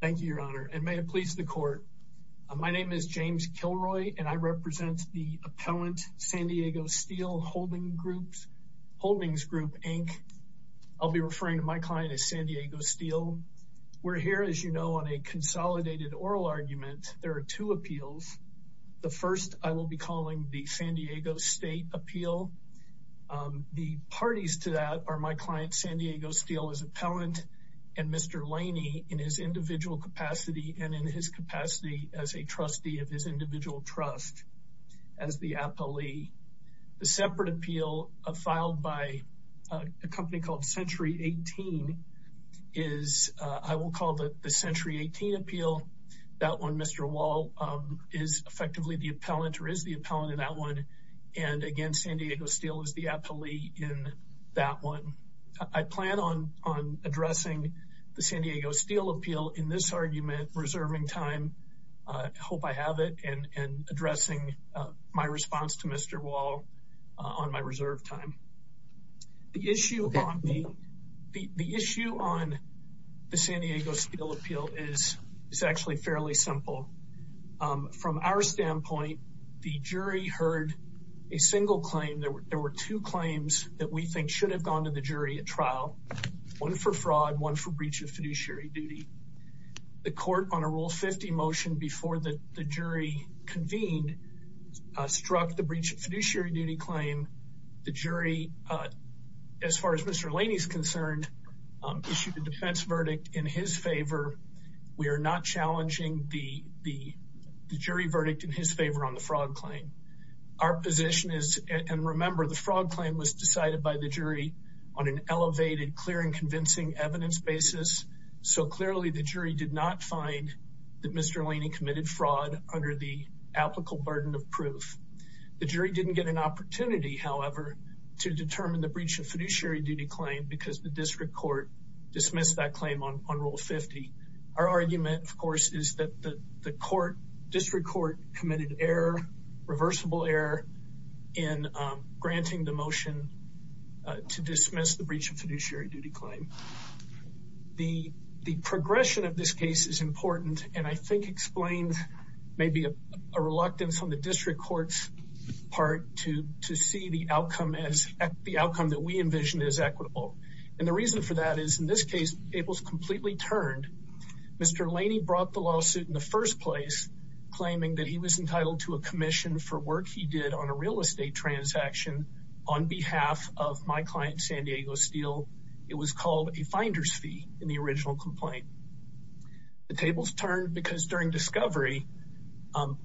Thank you, Your Honor, and may it please the court. My name is James Kilroy, and I represent the appellant San Diego Steel Holdings Group, Inc. I'll be referring to my client as San Diego Steel. We're here, as you know, on a consolidated oral argument. There are two appeals. The first I will be calling the San Diego State Appeal. The parties to that are my client San Diego Steel as appellant and Mr. Leany in his individual capacity and in his capacity as a trustee of his individual trust as the appellee. The separate appeal filed by a company called Century 18 is, I will call it the Century 18 Appeal. That one, Mr. Wall is effectively the appellant, or is the appellant in that one. And again, San Diego Steel is the appellee in that one. I plan on addressing the San Diego Steel Appeal in this argument, reserving time. I hope I have it, and addressing my response to Mr. Wall on my reserve time. The issue on the San Diego Steel Appeal is actually fairly simple. From our standpoint, the jury heard a single claim. There were two claims that we think should have gone to the jury at trial. One for fraud, one for breach of fiduciary duty. The court on a Rule 50 motion before the jury convened struck the breach of fiduciary duty claim. The jury, as far as Mr. Leany is concerned, issued a defense verdict in his favor. We are not challenging the jury verdict in his favor on the fraud claim. Our position is, and remember, the fraud claim was decided by the jury on an elevated, clear, and convincing evidence basis. So clearly, the jury did not find that Mr. Leany committed fraud under the applicable burden of proof. The jury didn't get an opportunity, however, to determine the breach of fiduciary duty claim, because the district court dismissed that claim on Rule 50. Our argument, of course, is that the court, district court, committed error, reversible error, in granting the motion to dismiss the breach of fiduciary duty claim. The progression of this case is important, and I think explains maybe a reluctance on the district court's part to see the outcome that we envision as equitable. And the reason for that is, in this case, it was completely turned. Mr. Leany brought the claiming that he was entitled to a commission for work he did on a real estate transaction on behalf of my client, San Diego Steel. It was called a finder's fee in the original complaint. The tables turned because during discovery,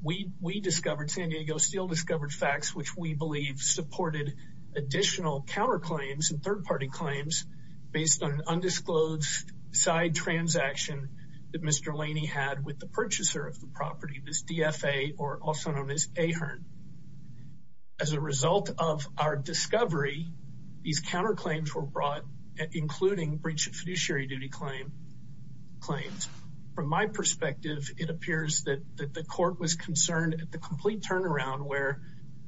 we discovered, San Diego Steel discovered facts which we believe supported additional counterclaims and third-party claims based on an undisclosed side transaction that Mr. Leany had with the purchaser of the property, this DFA, or also known as Ahern. As a result of our discovery, these counterclaims were brought, including breach of fiduciary duty claims. From my perspective, it appears that the court was concerned at the complete turnaround, where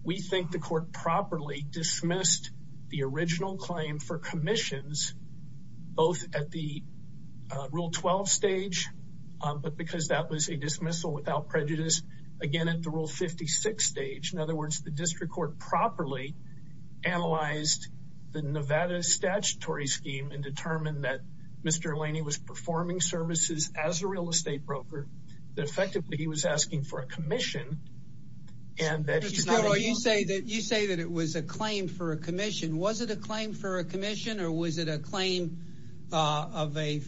we think the court properly dismissed the original claim for commissions, both at the Rule 12 stage, but because that was a dismissal without prejudice, again, at the Rule 56 stage. In other words, the district court properly analyzed the Nevada statutory scheme and determined that Mr. Leany was performing services as a real estate broker, that effectively he was asking for a commission, and that he's not... You say that it was a claim for a commission. Was it a claim for a commission, or was it a claim of a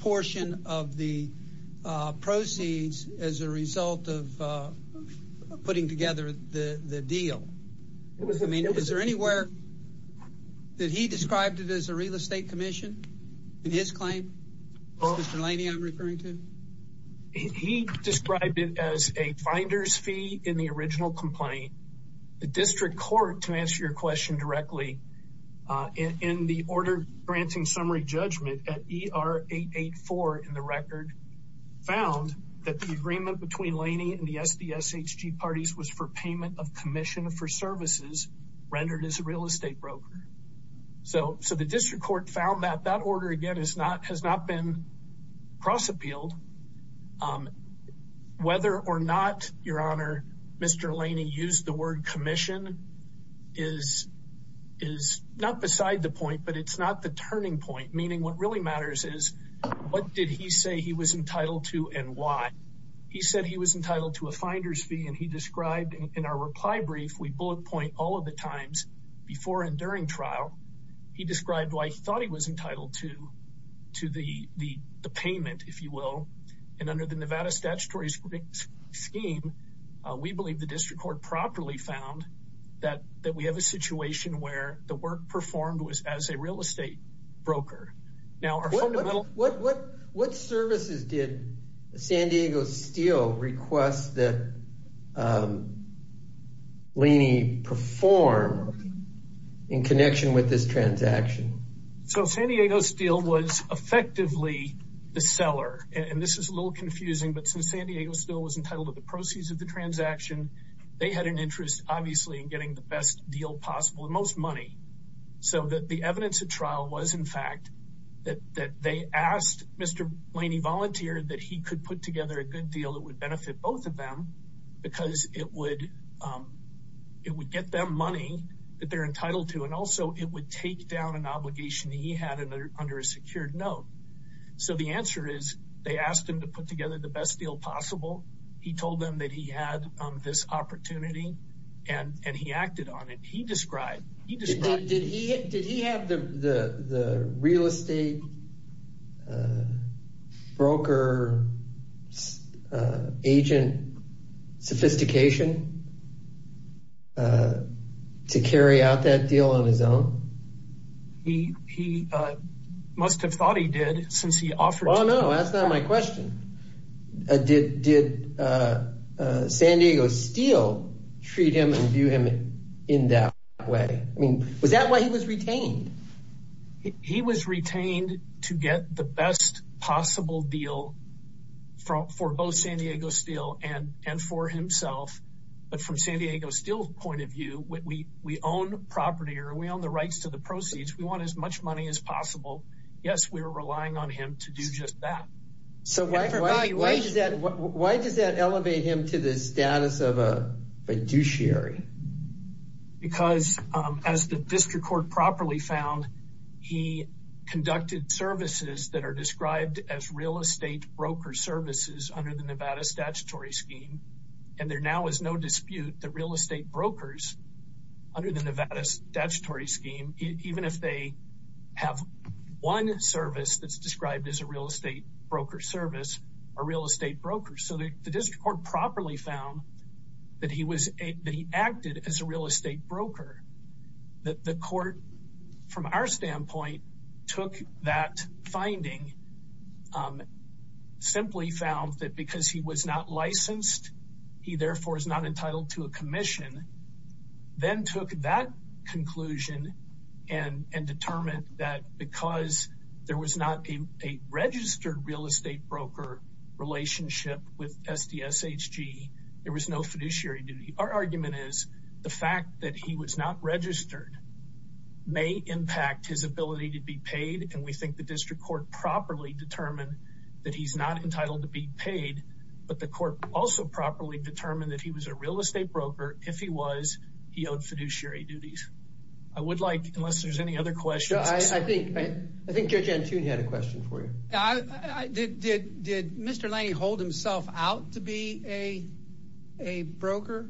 portion of the proceeds as a result of putting together the deal? I mean, is there anywhere that he described it as a real estate commission in his claim, Mr. Leany I'm referring to? He described it as a finder's fee in the original complaint. The district court, to answer your question directly, in the order granting summary judgment at ER 884 in the record, found that the agreement between Leany and the SDSHG parties was for payment of commission for services rendered as a real estate broker. So the district court found that that order, again, has not been cross-appealed. Whether or not, Your Honor, Mr. Leany used the word commission is not beside the point, but it's not the turning point. Meaning what really matters is, what did he say he was entitled to and why? He said he was entitled to a finder's fee, and he described in our reply brief, we bullet point all of the times before and during trial. He described why he thought he was entitled to the payment, if you will, and under the Nevada statutory scheme, we believe the district court properly found that we have a situation where the work performed was as a real estate broker. Now, what services did San Diego Steel request that Leany perform in connection with this transaction? So San Diego Steel was effectively the seller, and this is a little confusing, but since San Diego Steel was entitled to the proceeds of the transaction, they had an interest, obviously, in getting the best deal possible, and most money, so that the evidence at trial was, in fact, that they asked Mr. Leany volunteer that he could put together a good deal that would benefit both of them because it would get them money that they're entitled to, and also it would take down an obligation that he had under a secured note. So the answer is, they asked him to put together the best deal possible. He told them that he had this opportunity, and he acted on it. He described... Did he have the real estate broker agent sophistication to carry out that deal on his own? He must have thought he did, since he was a broker. Did San Diego Steel treat him and view him in that way? I mean, was that why he was retained? He was retained to get the best possible deal for both San Diego Steel and for himself, but from San Diego Steel's point of view, when we own the property or we own the rights to the proceeds, we want as much money as possible. Yes, we were relying on him to do just that. So why does that elevate him to the status of a fiduciary? Because as the district court properly found, he conducted services that are described as real estate broker services under the Nevada statutory scheme, and there now is no dispute that real estate brokers under the Nevada statutory scheme, even if they have one service that's described as a real estate broker service, are real estate brokers. So the district court properly found that he acted as a real estate broker. The court, from our standpoint, took that finding, simply found that because he was not licensed, he therefore is not entitled to a commission, then took that conclusion and determined that because there was not a registered real estate broker relationship with SDSHG, there was no fiduciary duty. Our argument is the fact that he was not registered may impact his ability to be paid, and we think the district court properly determined that he's not entitled to be paid, but the court also properly determined that he was a real estate broker. If he was, he owed fiduciary duties. I would like, unless there's any other questions. I think Judge Antune had a question for you. Did Mr. Laney hold himself out to be a broker?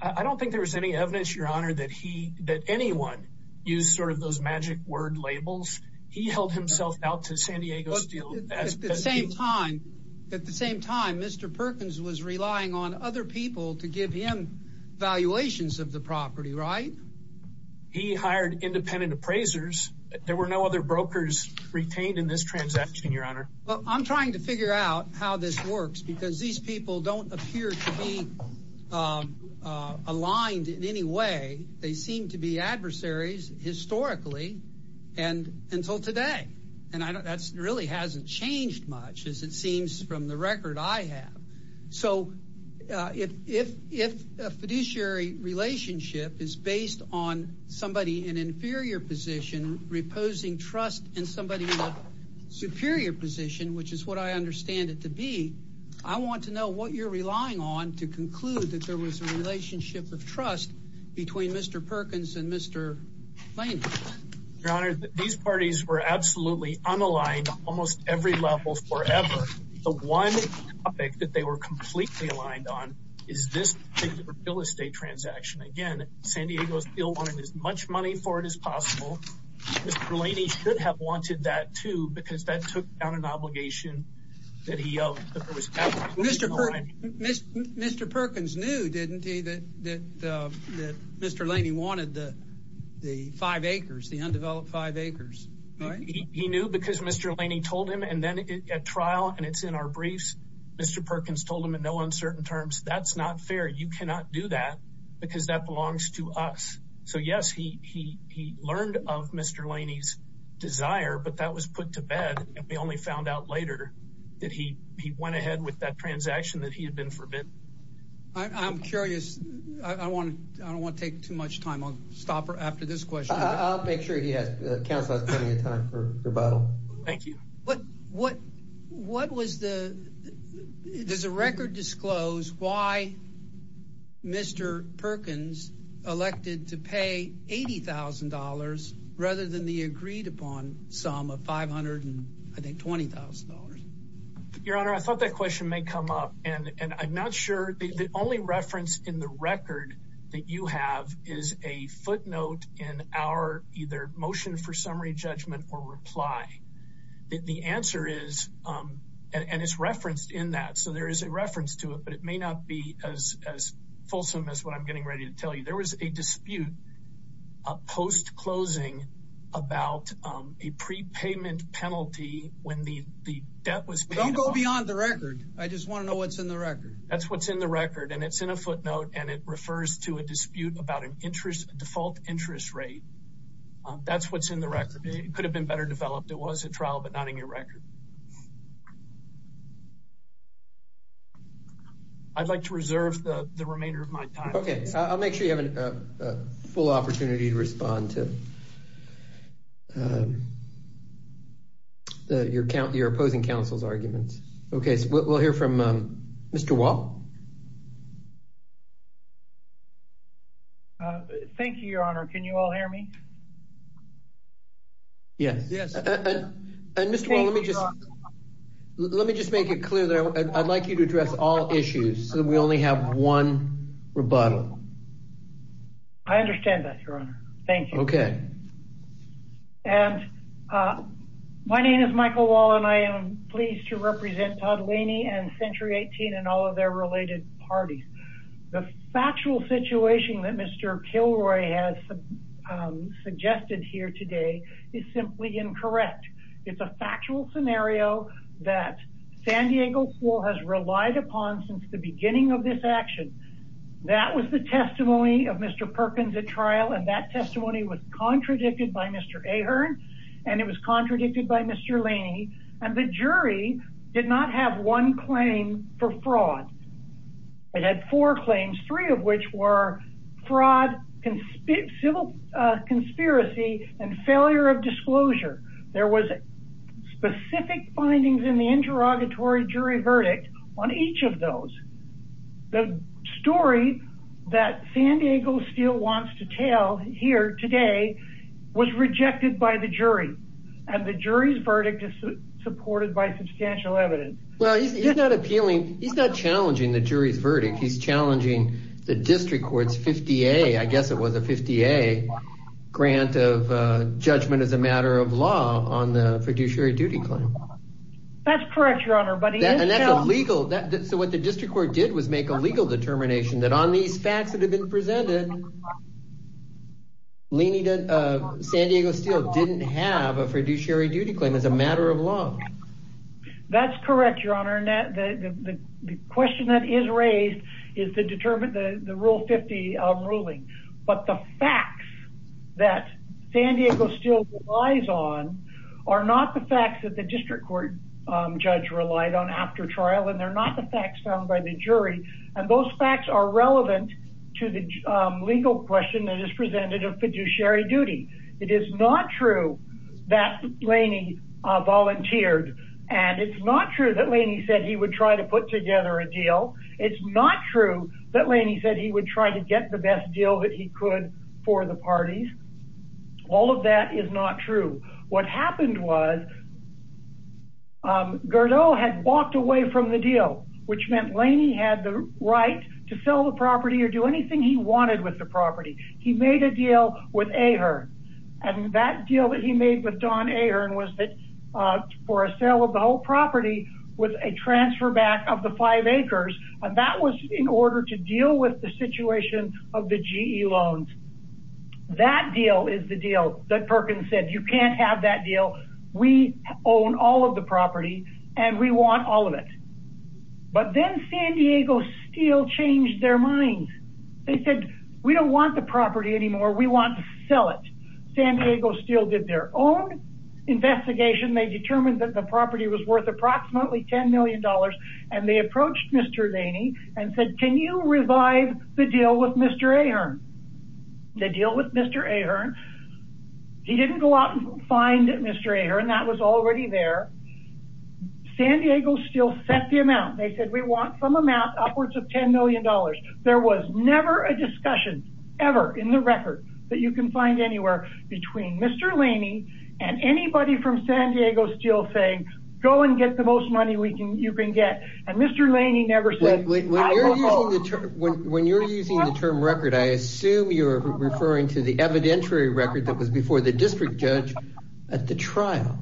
I don't think there was any evidence, Your Honor, that anyone used sort of those magic word labels. He held himself out to San Diego Steel. At the same time, Mr. Perkins was relying on other people to give him valuations of the property, right? He hired independent appraisers. There were no other brokers retained in this transaction, Your Honor. I'm trying to figure out how this works because these people don't appear to be aligned in any way. They seem to be adversaries historically until today, and that really hasn't changed much as it seems from the record I have. So if a fiduciary relationship is based on somebody in an inferior position reposing trust and somebody in a superior position, which is what I understand it to be, I want to know what you're relying on to conclude that there was a relationship of trust between Mr. Perkins and Mr. Laney. Your Honor, these parties were absolutely unaligned almost every level forever. The one topic that they were completely aligned on is this particular real estate transaction. Again, San Diego Steel wanted as much money for it as possible. Mr. Laney should have wanted that too because that took down an obligation. Mr. Perkins knew, didn't he, that Mr. Laney wanted the five acres, the undeveloped five acres, right? He knew because Mr. Laney told him. And then at trial, and it's in our briefs, Mr. Perkins told him in no uncertain terms, that's not fair. You cannot do that because that belongs to us. So yes, he learned of Mr. Laney's desire, but that was put to bed and we only found out later that he went ahead with that transaction that he had been forbidden. I'm curious. I don't want to take too much time. I'll stop after this question. I'll make sure he has plenty of time for rebuttal. Thank you. But what does the record disclose why Mr. Perkins elected to pay $80,000 rather than the agreed upon sum of $520,000? Your Honor, I thought that question may come up and I'm not sure. The only reference in the record that you have is a footnote in our either motion for summary judgment or reply. The answer is, and it's referenced in that. So there is a reference to it, but it may not be as fulsome as what I'm getting ready to tell you. There was a dispute post-closing about a prepayment penalty when the debt was paid. Don't go beyond the record. I just want to know what's in the record. That's what's in the record. And it's in a footnote and it refers to a dispute about default interest rate. That's what's in the record. It could have been better developed. It was a trial, but not in your record. I'd like to reserve the remainder of my time. Okay. I'll make sure you have a full opportunity to respond to your opposing counsel's arguments. Okay. We'll hear from Mr. Wall. Thank you, Your Honor. Can you all hear me? Yes. And Mr. Wall, let me just make it clear that I'd like you to address all issues so that we only have one rebuttal. I understand that, Your Honor. Thank you. Okay. And my name is Michael Wall and I am pleased to represent Todd Laney and Century 18 and all of their related parties. The factual situation that Mr. Kilroy has suggested here today is simply incorrect. It's a factual scenario that San Diego School has relied upon since the beginning of this action. That was the testimony of Mr. Perkins at trial and that testimony was contradicted by Mr. Ahern and it was contradicted by Mr. Laney. And the jury did not have one claim for fraud. It had four claims, three of which were fraud, civil conspiracy and failure of disclosure. There was specific findings in the interrogatory jury verdict on each of those. The story that San Diego Steel wants to tell here today was rejected by the jury and the jury's verdict is supported by substantial evidence. Well, he's not appealing. He's not challenging the jury's verdict. He's challenging the district court's 50A, I guess it was a 50A, grant of judgment as a matter of law on the fiduciary duty claim. That's correct, Your Honor. And that's illegal. So what the district court did was make a legal determination that on these facts that have been presented, San Diego Steel didn't have a fiduciary duty claim as a matter of law. That's correct, Your Honor. And the question that is raised is the rule 50 ruling. But the facts that San Diego Steel relies on are not the facts that the district court judge relied on after trial and they're not the facts found by the jury. And those facts are relevant to the legal question that is presented of fiduciary duty. It is not true that Laney volunteered and it's not true that Laney said he would try to put together a deal. It's not true that Laney said he would try to get the best deal that he could for the parties. All of that is not true. What happened was Gerdau had walked away from the deal, which meant Laney had the right to sell the property or do anything he wanted with the property. He made a deal with Ahearn. And that deal that he made with Don Ahearn was for a sale of the whole property with a transfer back of the five acres. And that was in order to deal with the situation of the GE loans. That deal is the deal that we own all of the property and we want all of it. But then San Diego Steel changed their mind. They said, we don't want the property anymore. We want to sell it. San Diego Steel did their own investigation. They determined that the property was worth approximately $10 million and they approached Mr. Laney and said, can you revive the deal with Mr. Ahearn? The deal with Mr. Ahearn, he didn't go out and find Mr. Ahearn and that was already there. San Diego Steel set the amount. They said, we want some amount upwards of $10 million. There was never a discussion ever in the record that you can find anywhere between Mr. Laney and anybody from San Diego Steel saying, go and get the most money you can get. And Mr. Laney never said... When you're using the term record, I assume you're referring to the evidentiary record that was before the district judge at the trial.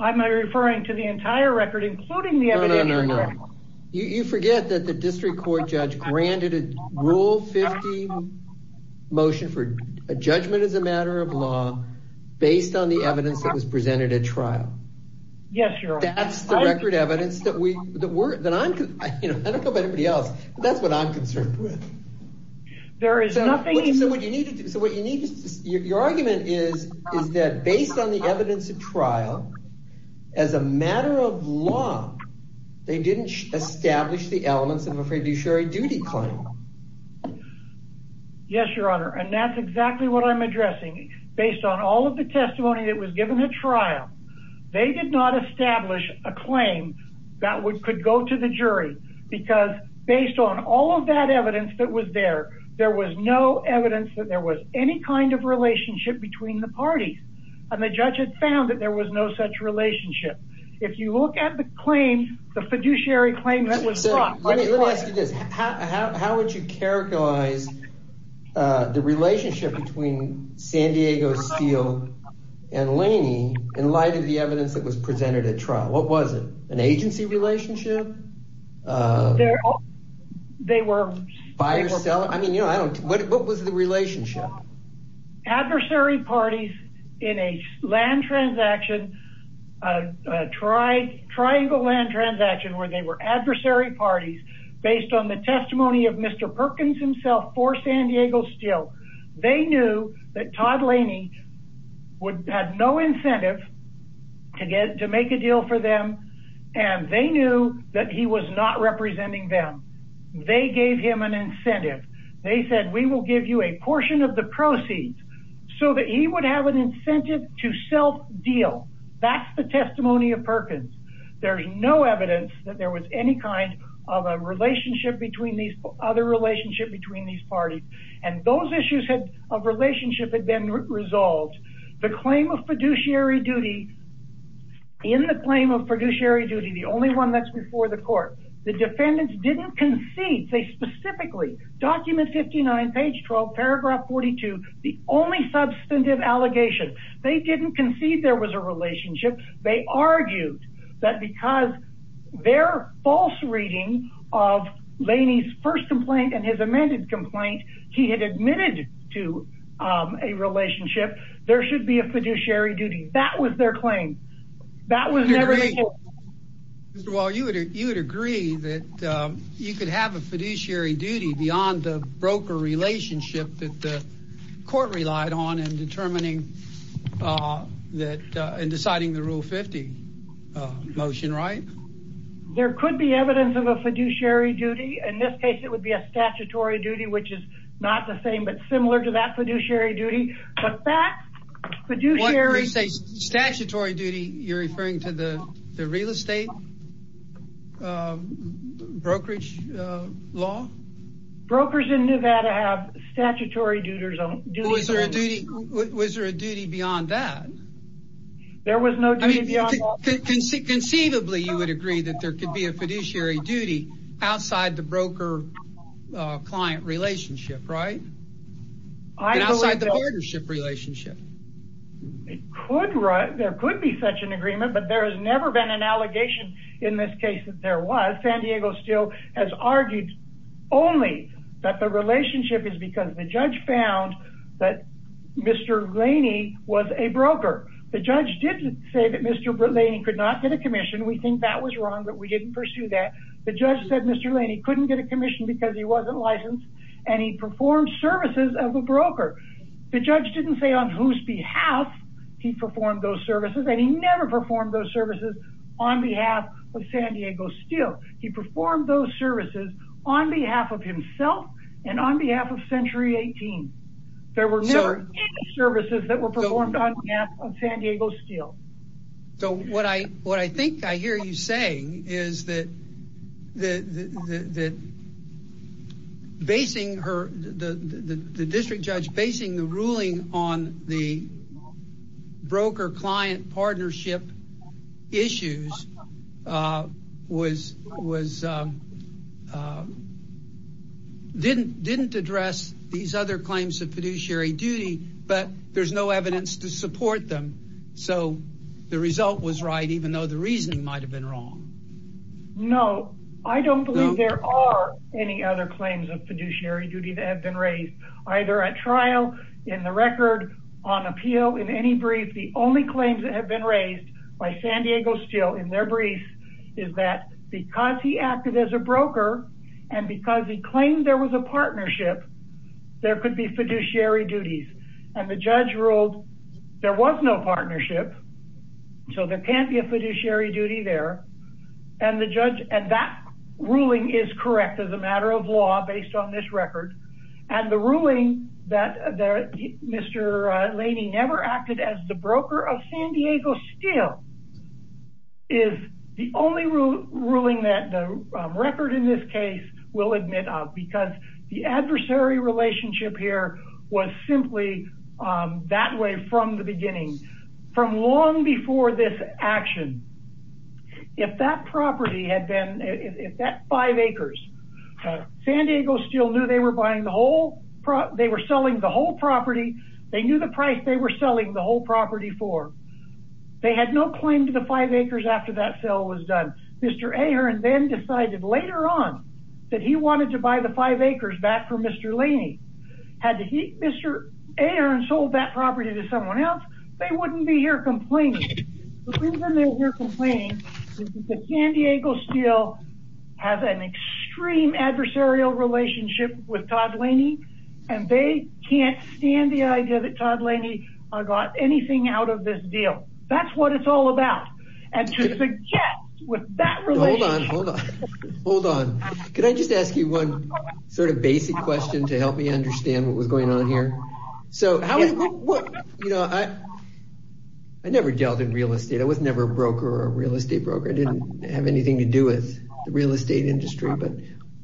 I'm referring to the entire record, including the evidentiary record. No, no, no. You forget that the district court judge granted a Rule 50 motion for a judgment as a matter of law based on the evidence that was presented at trial. Yes, Your Honor. That's the record evidence that I'm... I don't know about anybody else, but that's what I'm concerned with. Your argument is that based on the evidence at trial, as a matter of law, they didn't establish the elements of a fiduciary duty claim. Yes, Your Honor. And that's exactly what I'm addressing. Based on all of the testimony that was given at trial, they did not establish a claim that could go to the jury. Because based on all of that evidence that was there, there was no evidence that there was any kind of relationship between the parties. And the judge had found that there was no such relationship. If you look at the claim, the fiduciary claim that was brought... Let me ask you this. How would you characterize the relationship between San Diego Steel and Laney in light of the evidence that was presented at trial? What was it? An agency relationship? They were... What was the relationship? Adversary parties in a land transaction, a triangle land transaction, where they were adversary parties based on the testimony of Mr. Perkins himself for San Diego Steel. They knew that Todd Laney had no incentive to make a deal for them, and they knew that he was not representing them. They gave him an incentive. They said, we will give you a portion of the proceeds so that he would have an incentive to self-deal. That's the testimony of Perkins. There's no evidence that there was any kind of a relationship between these... other relationship between these parties. And those issues of relationship had been resolved. The claim of fiduciary duty... In the claim of fiduciary duty, the only one that's before the court, the defendants didn't concede. They specifically, document 59, page 12, paragraph 42, the only substantive allegation. They didn't concede there was a relationship. They argued that because their false reading of Laney's first complaint and his amended complaint, he had admitted to a relationship, there should be a fiduciary duty. That was their claim. That was never... Mr. Wall, you would agree that you could have a fiduciary duty beyond the court relied on in determining that... in deciding the Rule 50 motion, right? There could be evidence of a fiduciary duty. In this case, it would be a statutory duty, which is not the same, but similar to that fiduciary duty. But that fiduciary... When you say statutory duty, you're referring to the real estate brokerage law? Brokers in Nevada have statutory duties. Was there a duty beyond that? There was no duty beyond that. Conceivably, you would agree that there could be a fiduciary duty outside the broker-client relationship, right? Outside the partnership relationship. It could. There could be such an agreement, but there has never been an allegation in this case that there was. San Diego still has argued only that the relationship is because the judge found that Mr. Laney was a broker. The judge did say that Mr. Laney could not get a commission. We think that was wrong, but we didn't pursue that. The judge said Mr. Laney couldn't get a commission because he wasn't licensed and he performed services of a broker. The judge didn't say on whose behalf he performed those services, and he never performed those on San Diego Steel. He performed those services on behalf of himself and on behalf of Century 18. There were never any services that were performed on behalf of San Diego Steel. So what I think I hear you saying is that the district judge basing the ruling on the broker-client partnership issues didn't address these other claims of fiduciary duty, but there's no evidence to support them. So the result was right, even though the reasoning might have been wrong. No, I don't believe there are any other claims of fiduciary duty that have been raised. The only claims that have been raised by San Diego Steel in their brief is that because he acted as a broker and because he claimed there was a partnership, there could be fiduciary duties. And the judge ruled there was no partnership, so there can't be a fiduciary duty there. And that ruling is correct as a matter of law based on this record. And the ruling that Mr. Broker of San Diego Steel is the only ruling that the record in this case will admit of because the adversary relationship here was simply that way from the beginning. From long before this action, if that property had been, if that five acres, San Diego Steel knew they were buying the property, they knew the price they were selling the whole property for. They had no claim to the five acres after that sale was done. Mr. Ahearn then decided later on that he wanted to buy the five acres back for Mr. Laney. Had Mr. Ahearn sold that property to someone else, they wouldn't be here complaining. The reason they're here complaining is that San Diego Steel has an idea that Todd Laney got anything out of this deal. That's what it's all about. And to suggest with that relation... Hold on, hold on, hold on. Could I just ask you one sort of basic question to help me understand what was going on here? I never dealt in real estate. I was never a broker or a real estate broker. I didn't have anything to do with the real estate industry, but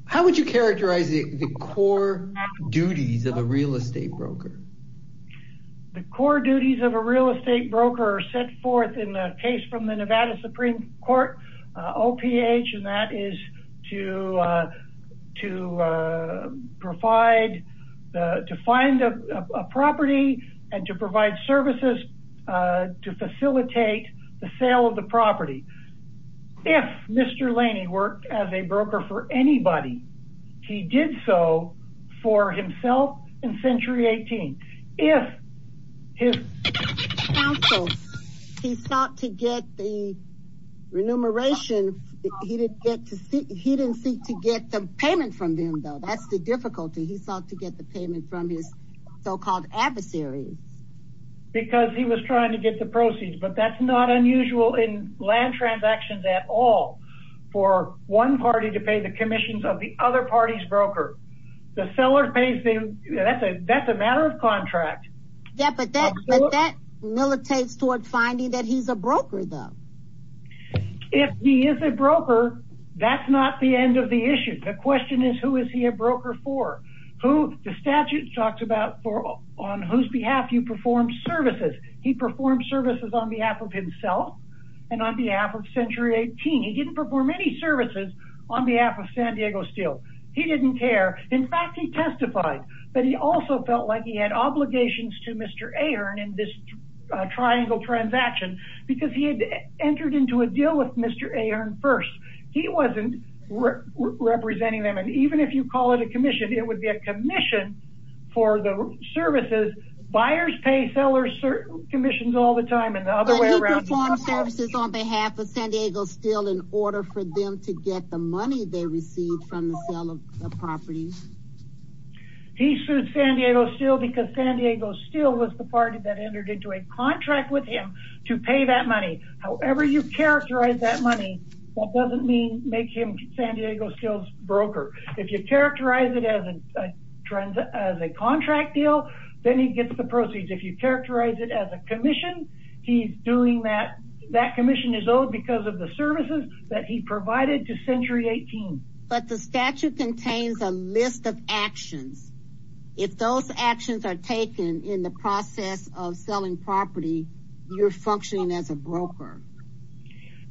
how would characterize the core duties of a real estate broker? The core duties of a real estate broker are set forth in the case from the Nevada Supreme Court, OPH, and that is to find a property and to provide services to facilitate the sale of the property. If Mr. Laney worked as a broker for anybody, he did so for himself in century 18. If he sought to get the remuneration, he didn't seek to get the payment from them though. That's the difficulty. He sought to get the payment from his so-called adversaries. Because he was trying to get the proceeds, but that's not unusual in land transactions at all for one party to pay the commissions of the other party's broker. The seller pays them. That's a matter of contract. Yeah, but that militates toward finding that he's a broker though. If he is a broker, that's not the end of the issue. The question is who is he a broker for? The statute talks about on whose behalf you can sell and on behalf of century 18. He didn't perform any services on behalf of San Diego Steel. He didn't care. In fact, he testified, but he also felt like he had obligations to Mr. Ahern in this triangle transaction because he had entered into a deal with Mr. Ahern first. He wasn't representing them. Even if you call it a commission, it would be a commission for the services. Buyers pay sellers commissions all the time and the other way around. He performed services on behalf of San Diego Steel in order for them to get the money they received from the sale of the property. He sued San Diego Steel because San Diego Steel was the party that entered into a contract with him to pay that money. However you characterize that money, that doesn't mean make him San Diego Steel's broker. If you characterize it as a contract deal, then he gets the proceeds. If you characterize it as a commission, that commission is owed because of the services that he provided to century 18. But the statute contains a list of actions. If those actions are taken in the process of selling property, you're functioning as a broker.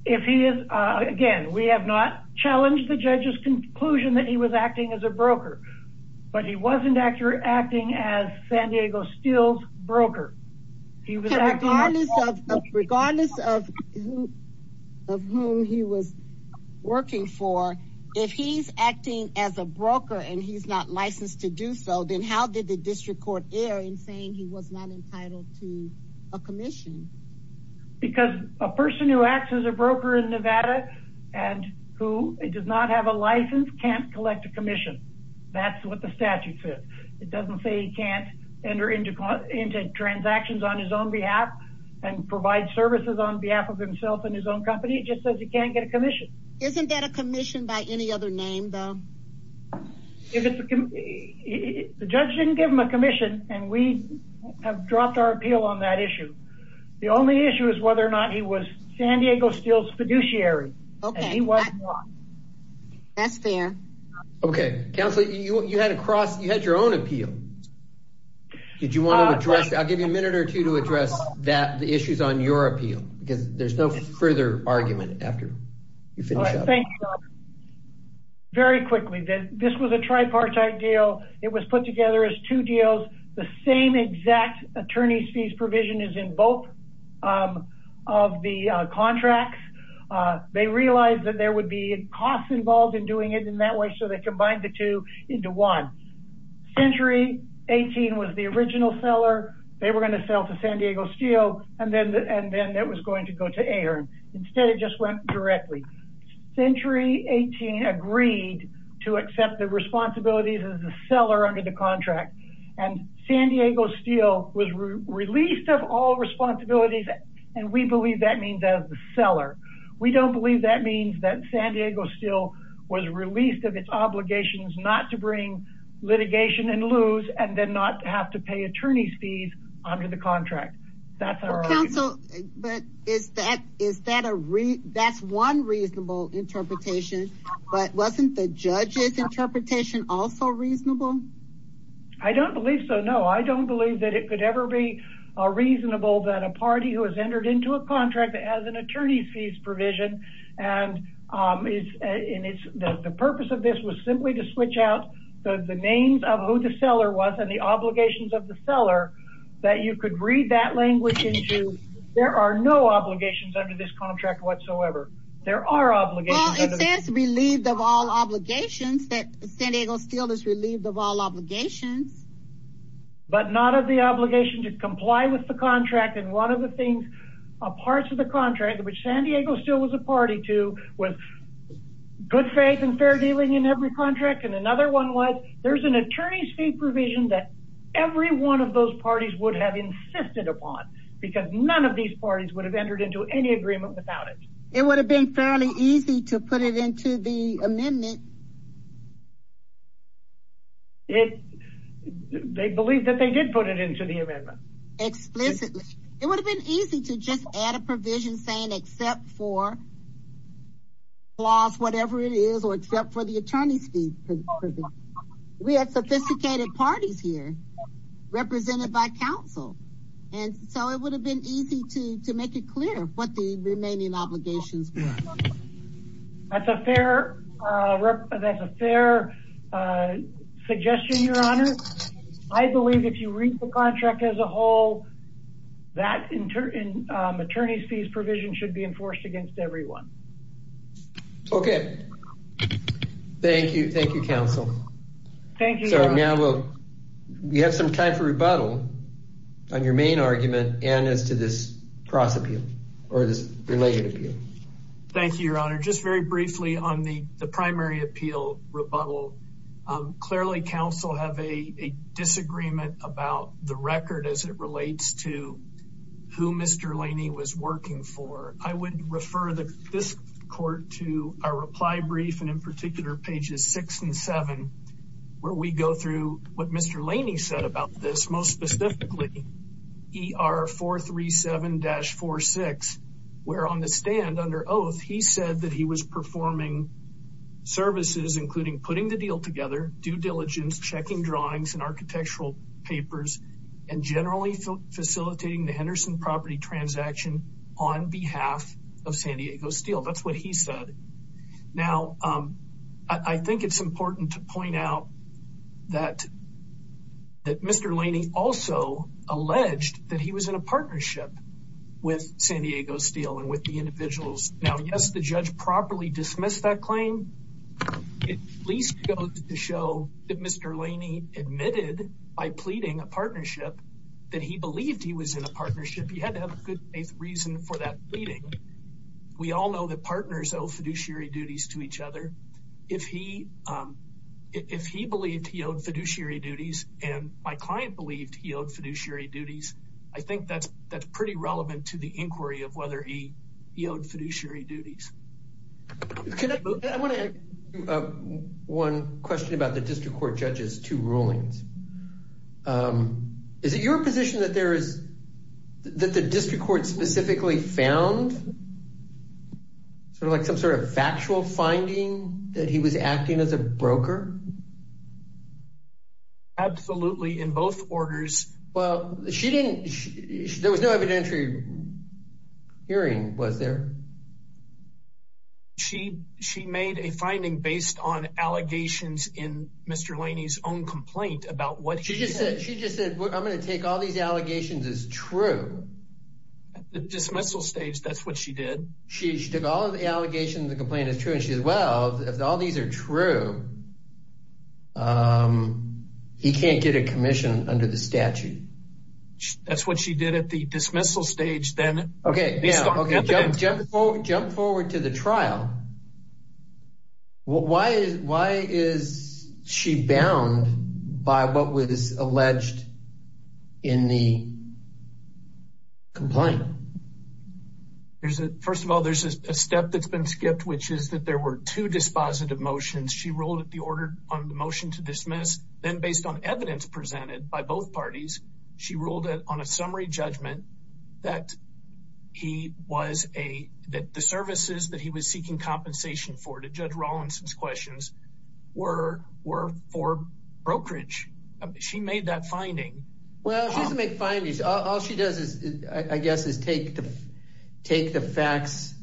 Again, we have not challenged the judge's conclusion that he was acting as a broker, but he wasn't acting as San Diego Steel's broker. Regardless of whom he was working for, if he's acting as a broker and he's not licensed to do so, then how did the district court err in saying he was not entitled to a commission? Because a person who acts as a broker in Nevada and who does not have a license can't collect a commission. That's what the statute says. It doesn't say he can't enter into transactions on his own behalf and provide services on behalf of himself and his own company. It just says he can't get a commission. Isn't that a commission by any other name, though? The judge didn't give him a commission and we have dropped our appeal on that issue. The only issue is whether or not he was San Diego Steel's fiduciary. That's fair. Okay. Counselor, you had your own appeal. I'll give you a minute or two to address the issues on your appeal because there's further argument after you finish up. Very quickly, this was a tripartite deal. It was put together as two deals. The same exact attorney's fees provision is in both of the contracts. They realized that there would be costs involved in doing it in that way, so they combined the two into one. Century 18 was the original seller. They were going to sell to Ahearn. Instead, it just went directly. Century 18 agreed to accept the responsibilities as a seller under the contract. San Diego Steel was released of all responsibilities and we believe that means as a seller. We don't believe that means that San Diego Steel was released of its obligations not to bring litigation and lose and then not have to pay attorney's fees under the contract. That's one reasonable interpretation, but wasn't the judge's interpretation also reasonable? I don't believe so, no. I don't believe that it could ever be a reasonable that a party who has entered into a contract that has an attorney's fees provision and the purpose of this was simply to switch out the names of who the seller was and the obligations of the seller that you could read that language into. There are no obligations under this contract whatsoever. There are obligations. It says relieved of all obligations that San Diego Steel is relieved of all obligations. But not of the obligation to comply with the contract and one of the things a part of the contract which San Diego Steel was a party to with good faith and fair dealing in every contract and another one was there's an attorney's fee provision that every one of those parties would have insisted upon because none of these parties would have entered into any agreement without it. It would have been fairly easy to put it into the amendment. It they believe that they did put it into the amendment. Explicitly. It would have been easy to just add a provision saying except for laws whatever it is or except for the attorney's fee. Because we have sophisticated parties here represented by council and so it would have been easy to to make it clear what the remaining obligations were. That's a fair suggestion your honor. I believe if you read the contract as a whole that attorney's fees provision should be included. Thank you your honor. We have some time for rebuttal on your main argument and as to this cross appeal or this related appeal. Thank you your honor. Just very briefly on the primary appeal rebuttal. Clearly council have a disagreement about the record as it relates to who Mr. Laney was working for. I would refer this court to our reply brief and in particular pages six and seven where we go through what Mr. Laney said about this most specifically er 437-46 where on the stand under oath he said that he was performing services including putting the deal together due diligence checking drawings and architectural papers and generally facilitating the Henderson property transaction on behalf of San Diego Steel. That's what he said. Now I think it's important to point out that that Mr. Laney also alleged that he was in a partnership with San Diego Steel and with the individuals. Now yes the judge properly dismissed that claim it at least goes to show that Mr. Laney admitted by pleading a partnership that he believed he was in a partnership. He had to have a good faith reason for that pleading. We all know that partners owe fiduciary duties to each other. If he believed he owed fiduciary duties and my client believed he owed fiduciary duties I think that's pretty relevant to the inquiry of whether he he owed fiduciary duties. I want to ask you one question about the district court judges two rulings. Is it your position that there is that the district court specifically found sort of like some sort of factual finding that he was acting as a broker? Absolutely in both orders. Well she didn't there was no evidentiary hearing was there? She she made a finding based on allegations in Mr. Laney's own complaint about what she just said. She just said I'm going to take all these allegations as true. At the dismissal stage that's she did. She she took all the allegations the complaint is true and she says well if all these are true um he can't get a commission under the statute. That's what she did at the dismissal stage then. Okay yeah okay jump jump jump forward to the trial. Why is why is she bound by what was First of all there's a step that's been skipped which is that there were two dispositive motions. She ruled at the order on the motion to dismiss then based on evidence presented by both parties she ruled it on a summary judgment that he was a that the services that he was seeking compensation for to Judge Rawlinson's questions were were for brokerage. She made that finding. Well she doesn't make findings all she does is I guess is take the take the facts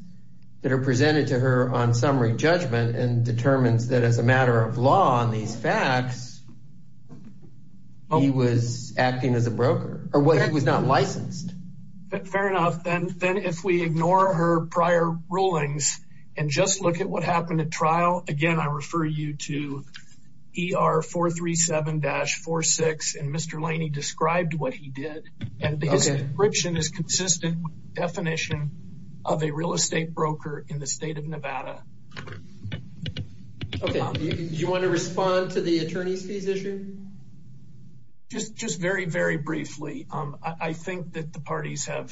that are presented to her on summary judgment and determines that as a matter of law on these facts he was acting as a broker or what he was not licensed. Fair enough then then if we ignore her prior rulings and just look at what happened at trial again I refer you to ER 437-46 and Mr. Laney described what he did and his description is consistent with the definition of a real estate broker in the state of Nevada. Okay do you want to respond to the attorney's fees issue? Just just very very briefly um I think that the parties have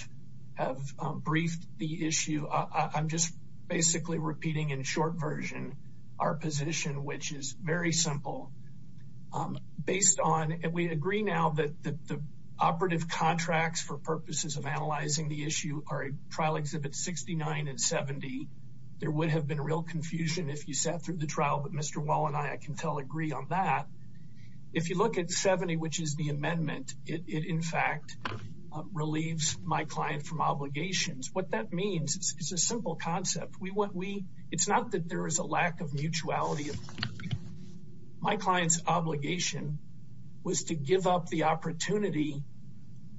have briefed the issue. I'm just basically repeating in short version our position which is very simple based on and we agree now that the operative contracts for purposes of analyzing the issue are trial exhibits 69 and 70. There would have been real confusion if you sat through the trial but Mr. Wall and I can tell agree on that. If you look at 70 which is the amendment it in fact relieves my client from concept we want we it's not that there is a lack of mutuality of my client's obligation was to give up the opportunity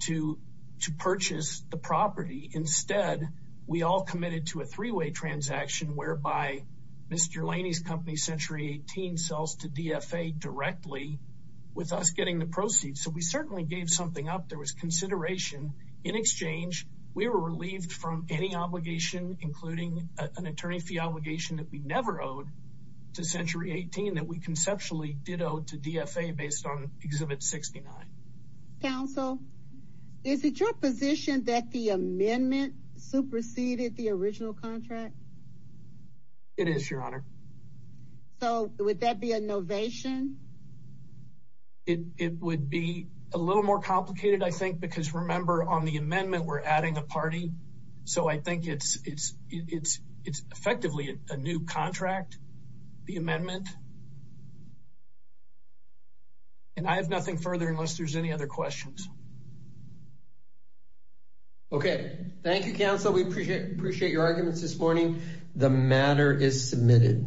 to to purchase the property instead we all committed to a three-way transaction whereby Mr. Laney's company Century 18 sells to DFA directly with us getting the proceeds so we certainly gave something up there was consideration in exchange we were relieved from any obligation including an attorney fee obligation that we never owed to Century 18 that we conceptually did owe to DFA based on exhibit 69. Counsel is it your position that the amendment superseded the original contract? It is your honor. So would that be a novation? It it would be a little more complicated I think because remember on the amendment we're adding a so I think it's it's it's it's effectively a new contract the amendment and I have nothing further unless there's any other questions. Okay thank you counsel we appreciate appreciate your arguments this morning. The matter is submitted.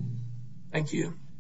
Thank you.